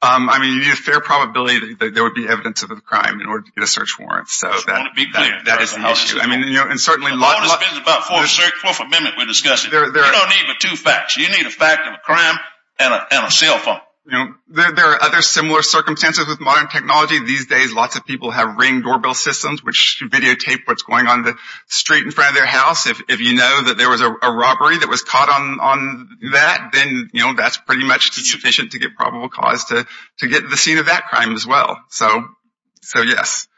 I mean, you need a fair probability that there would be evidence of a crime in order to get a search warrant. I want to be clear. That is an issue. I mean, you know, and certainly… The law dispenses about four for amendment we're discussing. You don't need but two facts. You need a fact of a crime and a cell phone. You know, there are other similar circumstances with modern technology. These days, lots of people have ring doorbell systems which videotape what's going on the street in front of their house. If you know that there was a robbery that was caught on that, then, you know, that's pretty much sufficient to get probable cause to get the scene of that crime as well. So, yes.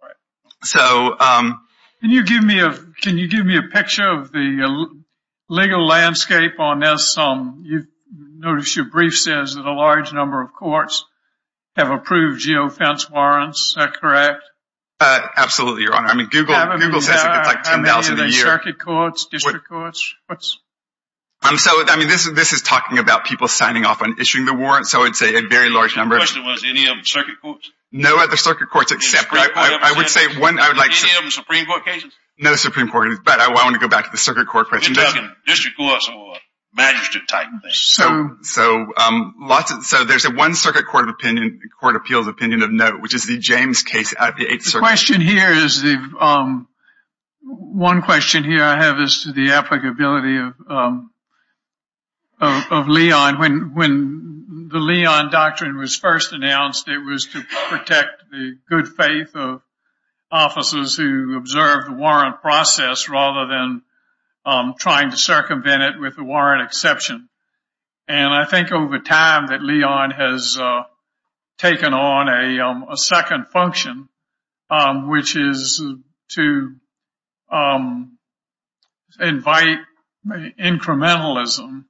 All right. So… Can you give me a picture of the legal landscape on this? Notice your brief says that a large number of courts have approved geofence warrants. Is that correct? Absolutely, Your Honor. I mean, Google says it gets like $10,000 a year. I mean, are they circuit courts, district courts? I mean, this is talking about people signing off on issuing the warrants. So, I would say a very large number of… The question was any of them circuit courts? No other circuit courts except… Any of them Supreme Court cases? No Supreme Court cases, but I want to go back to the circuit court question. I'm talking district courts or magistrate type things. So, there's a one circuit court of opinion, court appeals opinion of note, which is the James case at the 8th Circuit. The question here is the… One question here I have is to the applicability of Leon. When the Leon Doctrine was first announced, it was to protect the good faith of officers who observed the warrant process rather than trying to circumvent it with the warrant exception. And I think over time that Leon has taken on a second function, which is to invite incrementalism,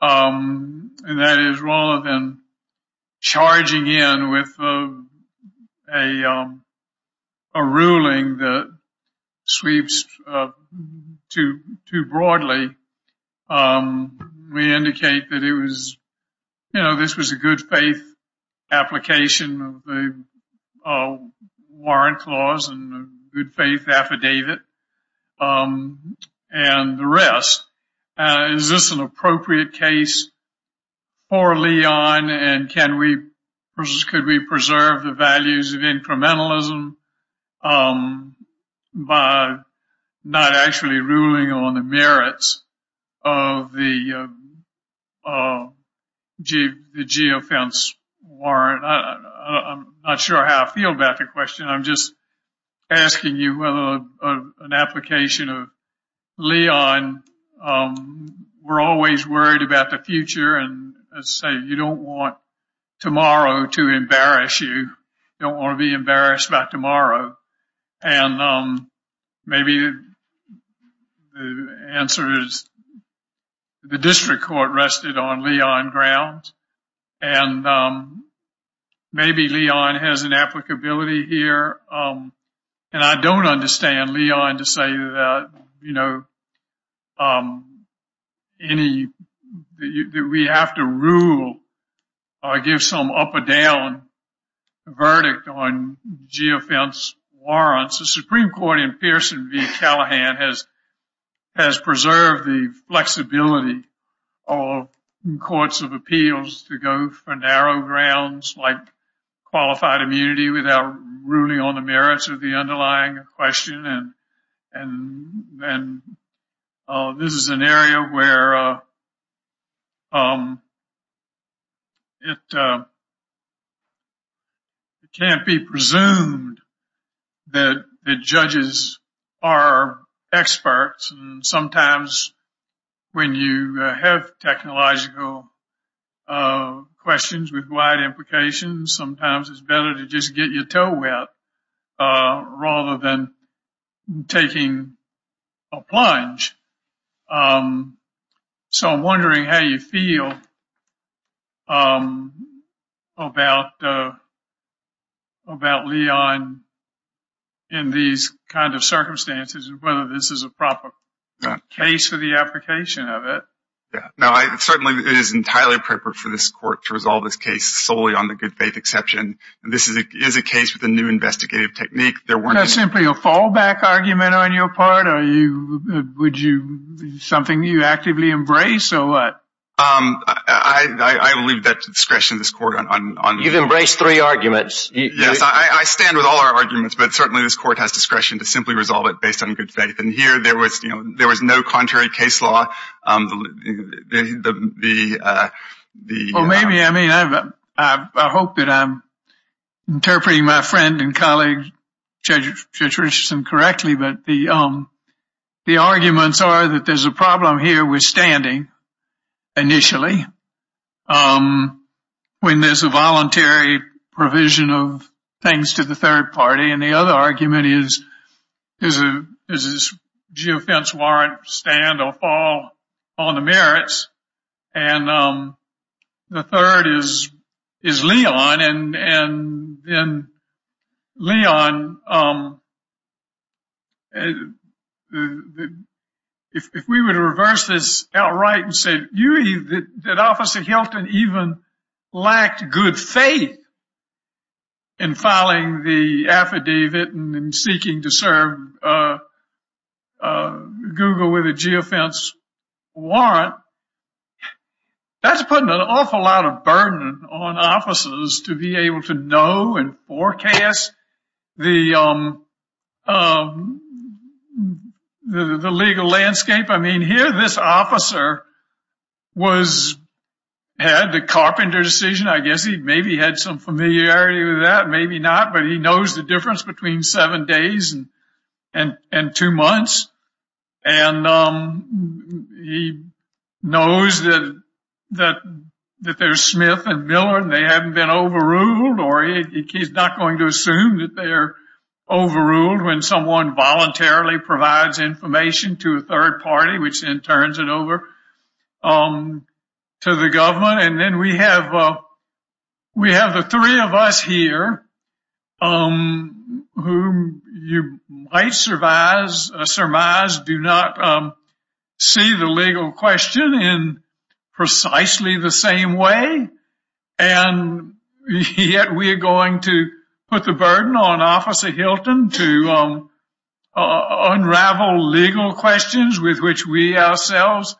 and that is rather than charging in with a ruling that sweeps too broadly. We indicate that it was… You know, this was a good faith application of the warrant clause and good faith affidavit and the rest. Is this an appropriate case for Leon and can we preserve the values of incrementalism by not actually ruling on the merits of the geofence warrant? I'm not sure how I feel about the question. I'm just asking you whether an application of Leon… We're always worried about the future and say you don't want tomorrow to embarrass you. You don't want to be embarrassed about tomorrow. And maybe the answer is the district court rested on Leon grounds and maybe Leon has an applicability here. And I don't understand Leon to say that we have to rule or give some up or down verdict on geofence warrants. The Supreme Court in Pearson v. Callahan has preserved the flexibility of courts of appeals to go for narrow grounds like qualified immunity without ruling on the merits of the underlying question. And this is an area where it can't be presumed that judges are experts. And sometimes when you have technological questions with wide implications, sometimes it's better to just get your toe wet rather than taking a plunge. So I'm wondering how you feel about Leon in these kind of circumstances and whether this is a proper case for the application of it. Certainly it is entirely appropriate for this court to resolve this case solely on the good faith exception. This is a case with a new investigative technique. Is that simply a fallback argument on your part? Is it something you actively embrace or what? I leave that to discretion of this court. You've embraced three arguments. Yes, I stand with all our arguments, but certainly this court has discretion to simply resolve it based on good faith. And here there was no contrary case law. I hope that I'm interpreting my friend and colleague Judge Richardson correctly, but the arguments are that there's a problem here with standing initially when there's a voluntary provision of things to the third party. And the other argument is does this geofence warrant stand or fall on the merits? And the third is Leon. And Leon, if we were to reverse this outright and say, did Officer Hilton even lack good faith in filing the affidavit and in seeking to serve Google with a geofence warrant, that's putting an awful lot of burden on officers to be able to know and forecast the legal landscape. I mean, here this officer had the Carpenter decision. I guess he maybe had some familiarity with that, maybe not, but he knows the difference between seven days and two months. And he knows that there's Smith and Miller and they haven't been overruled, or he's not going to assume that they're overruled when someone voluntarily provides information to a third party, which then turns it over to the government. And then we have the three of us here, whom you might surmise do not see the legal question in precisely the same way. And yet we are going to put the burden on Officer Hilton to unravel legal questions with which we ourselves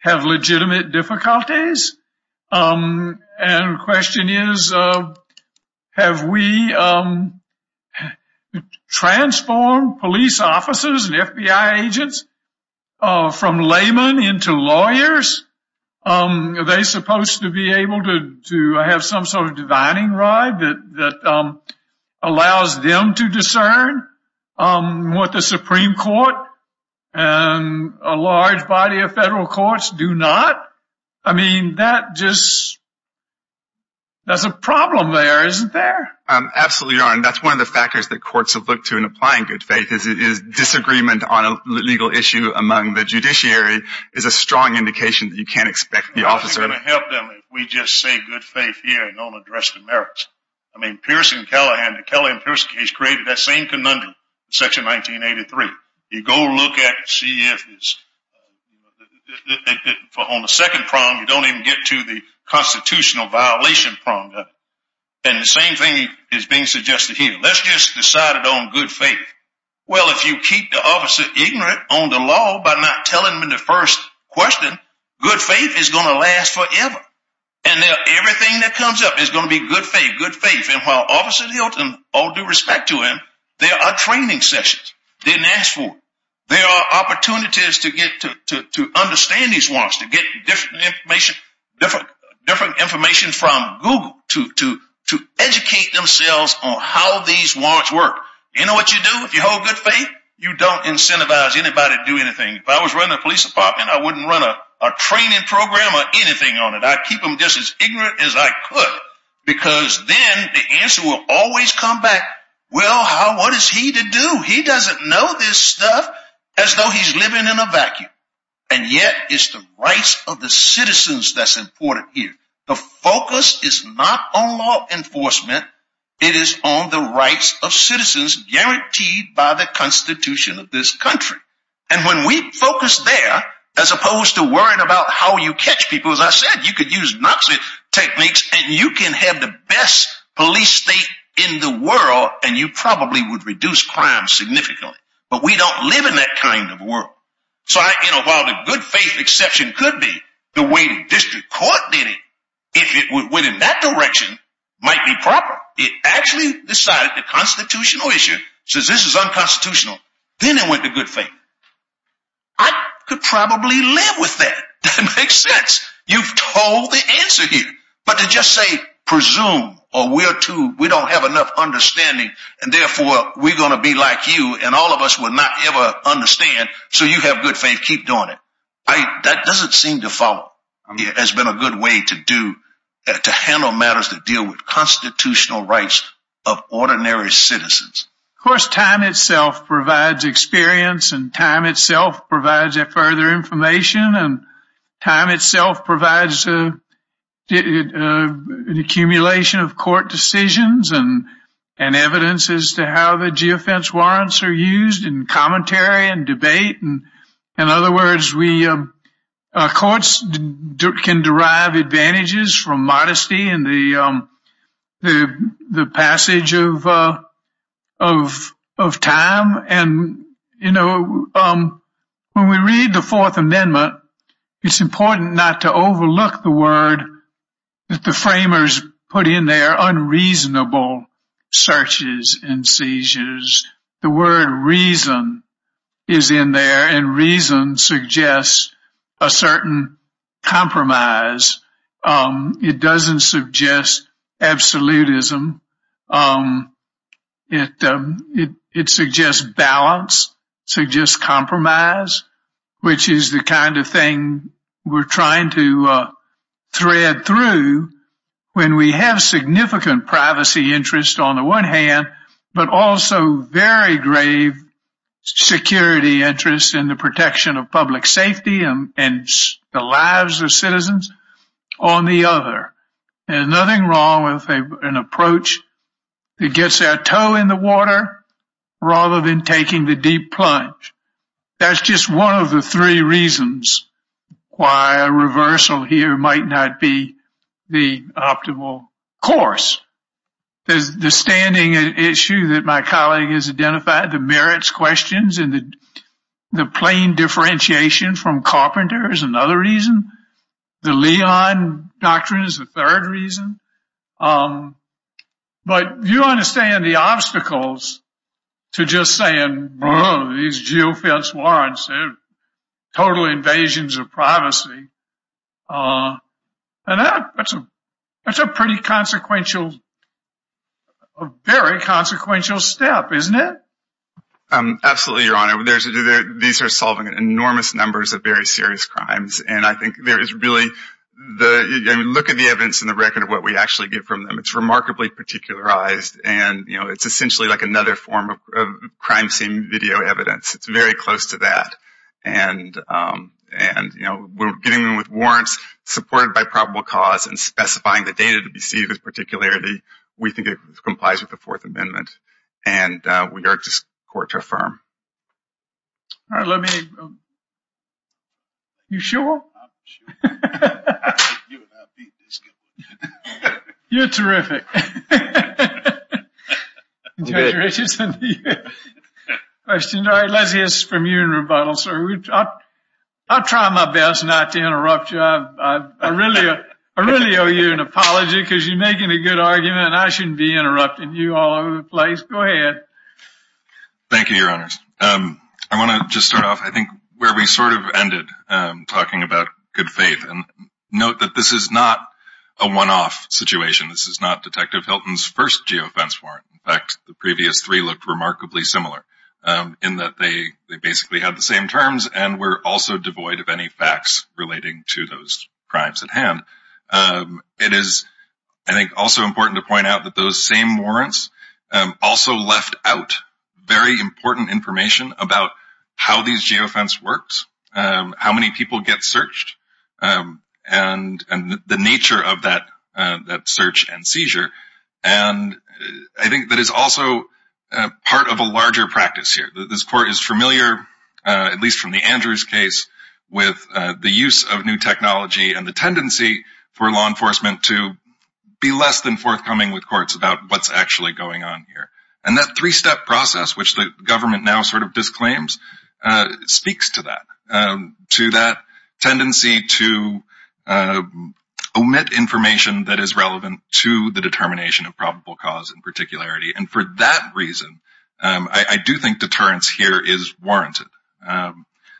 have legitimate difficulties. And the question is, have we transformed police officers and FBI agents from laymen into lawyers? Are they supposed to be able to have some sort of divining rod that allows them to discern what the Supreme Court and a large body of federal courts do not? I mean, that's a problem there, isn't there? Absolutely, Your Honor. That's one of the factors that courts have looked to in applying good faith because it is disagreement on a legal issue among the judiciary is a strong indication that you can't expect the officer to... How are we going to help them if we just say good faith here and don't address the merits? I mean, the Kelly and Pearson case created that same conundrum in Section 1983. You go look at it and see if it's... On the second prong, you don't even get to the constitutional violation prong. And the same thing is being suggested here. Let's just decide it on good faith. Well, if you keep the officer ignorant on the law by not telling them the first question, good faith is going to last forever. And everything that comes up is going to be good faith, good faith. And while Officer Hilton, all due respect to him, there are training sessions. Didn't ask for it. There are opportunities to understand these ones, to get different information from Google to educate themselves on how these ones work. You know what you do if you hold good faith? You don't incentivize anybody to do anything. If I was running a police department, I wouldn't run a training program or anything on it. I'd keep them just as ignorant as I could because then the answer will always come back, well, what is he to do? He doesn't know this stuff as though he's living in a vacuum. And yet it's the rights of the citizens that's important here. The focus is not on law enforcement. It is on the rights of citizens guaranteed by the Constitution of this country. And when we focus there, as opposed to worrying about how you catch people, as I said, you could use Nazi techniques and you can have the best police state in the world and you probably would reduce crime significantly. But we don't live in that kind of world. So while the good faith exception could be the way the district court did it, if it went in that direction, it might be proper. It actually decided the constitutional issue says this is unconstitutional. Then it went to good faith. I could probably live with that. That makes sense. You've told the answer here. But to just say presume or we don't have enough understanding and therefore we're going to be like you and all of us will not ever understand so you have good faith, keep doing it. That doesn't seem to follow. It has been a good way to handle matters that deal with constitutional rights of ordinary citizens. Of course, time itself provides experience and time itself provides further information and time itself provides an accumulation of court decisions and evidence as to how the geofence warrants are used in commentary and debate. In other words, courts can derive advantages from modesty and the passage of time. When we read the Fourth Amendment, it's important not to overlook the word that the framers put in there, unreasonable searches and seizures. The word reason is in there and reason suggests a certain compromise. It doesn't suggest absolutism. It suggests balance, suggests compromise, which is the kind of thing we're trying to thread through when we have significant privacy interest on the one hand but also very grave security interest in the protection of public safety and the lives of citizens on the other. There's nothing wrong with an approach that gets their toe in the water rather than taking the deep plunge. That's just one of the three reasons why a reversal here might not be the optimal course. There's the standing issue that my colleague has identified, the merits questions and the plain differentiation from Carpenter is another reason. The Leon Doctrine is the third reason. But you understand the obstacles to just saying, these geofence warrants are total invasions of privacy. That's a very consequential step, isn't it? Absolutely, Your Honor. These are solving enormous numbers of very serious crimes. Look at the evidence in the record of what we actually get from them. It's remarkably particularized. It's essentially like another form of crime scene video evidence. It's very close to that. We're getting them with warrants supported by probable cause and specifying the data to be seized with particularity. We think it complies with the Fourth Amendment. We are just court to affirm. Are you sure? I'm sure. You're terrific. Let's hear from you in rebuttal, sir. I'll try my best not to interrupt you. I really owe you an apology because you're making a good argument and I shouldn't be interrupting you all over the place. Go ahead. Thank you, Your Honors. I want to just start off, I think, where we sort of ended, talking about good faith. Note that this is not a one-off situation. This is not Detective Hilton's first geofence warrant. In fact, the previous three looked remarkably similar in that they basically had the same terms and were also devoid of any facts relating to those crimes at hand. It is, I think, also important to point out that those same warrants also left out very important information about how these geofence works, how many people get searched, and the nature of that search and seizure. And I think that is also part of a larger practice here. This court is familiar, at least from the Andrews case, with the use of new technology and the tendency for law enforcement to be less than forthcoming with courts about what's actually going on here. And that three-step process, which the government now sort of disclaims, speaks to that. To that tendency to omit information that is relevant to the determination of probable cause in particularity. And for that reason, I do think deterrence here is warranted.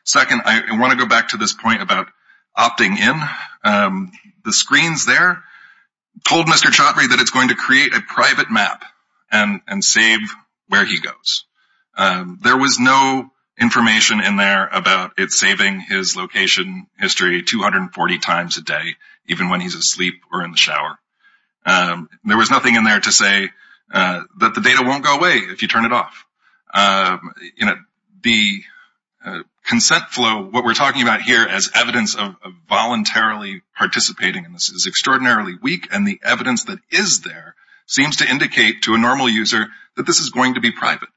Second, I want to go back to this point about opting in. The screens there told Mr. Chaudhry that it's going to create a private map and save where he goes. There was no information in there about it saving his location history 240 times a day, even when he's asleep or in the shower. There was nothing in there to say that the data won't go away if you turn it off. The consent flow, what we're talking about here as evidence of voluntarily participating in this, is extraordinarily weak. And the evidence that is there seems to indicate to a normal user that this is going to be private.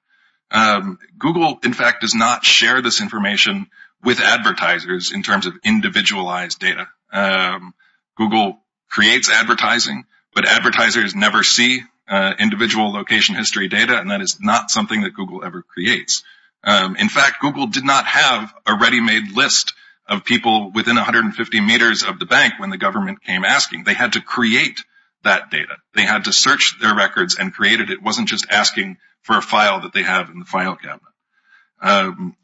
Google, in fact, does not share this information with advertisers in terms of individualized data. Google creates advertising, but advertisers never see individual location history data. And that is not something that Google ever creates. In fact, Google did not have a ready-made list of people within 150 meters of the bank when the government came asking. They had to create that data. They had to search their records and create it. It wasn't just asking for a file that they have in the file cabinet.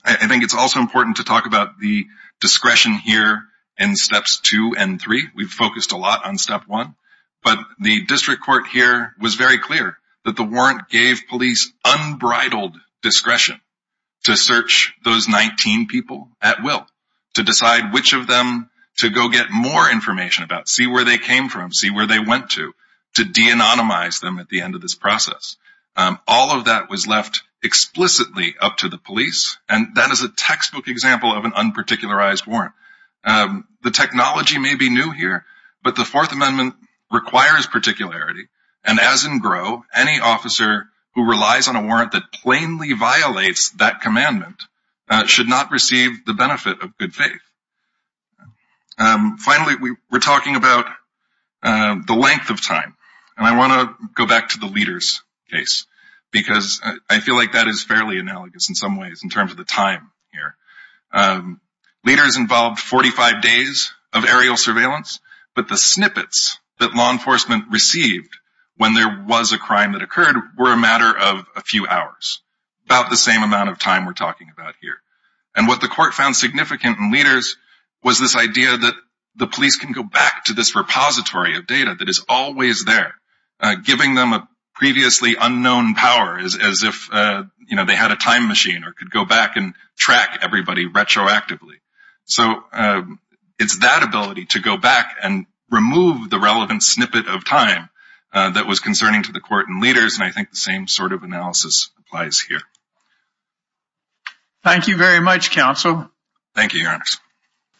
I think it's also important to talk about the discretion here in steps two and three. We've focused a lot on step one. But the district court here was very clear that the warrant gave police unbridled discretion to search those 19 people at will, to decide which of them to go get more information about, see where they came from, see where they went to, to deanonymize them at the end of this process. All of that was left explicitly up to the police, and that is a textbook example of an unparticularized warrant. The technology may be new here, but the Fourth Amendment requires particularity. And as in GROW, any officer who relies on a warrant that plainly violates that commandment should not receive the benefit of good faith. Finally, we're talking about the length of time. And I want to go back to the leaders case because I feel like that is fairly analogous in some ways in terms of the time here. Leaders involved 45 days of aerial surveillance, but the snippets that law enforcement received when there was a crime that occurred were a matter of a few hours, about the same amount of time we're talking about here. And what the court found significant in leaders was this idea that the police can go back to this repository of data that is always there, giving them a previously unknown power as if they had a time machine or could go back and track everybody retroactively. So it's that ability to go back and remove the relevant snippet of time that was concerning to the court and leaders, and I think the same sort of analysis applies here. Thank you very much, Counsel. Thank you, Your Honor.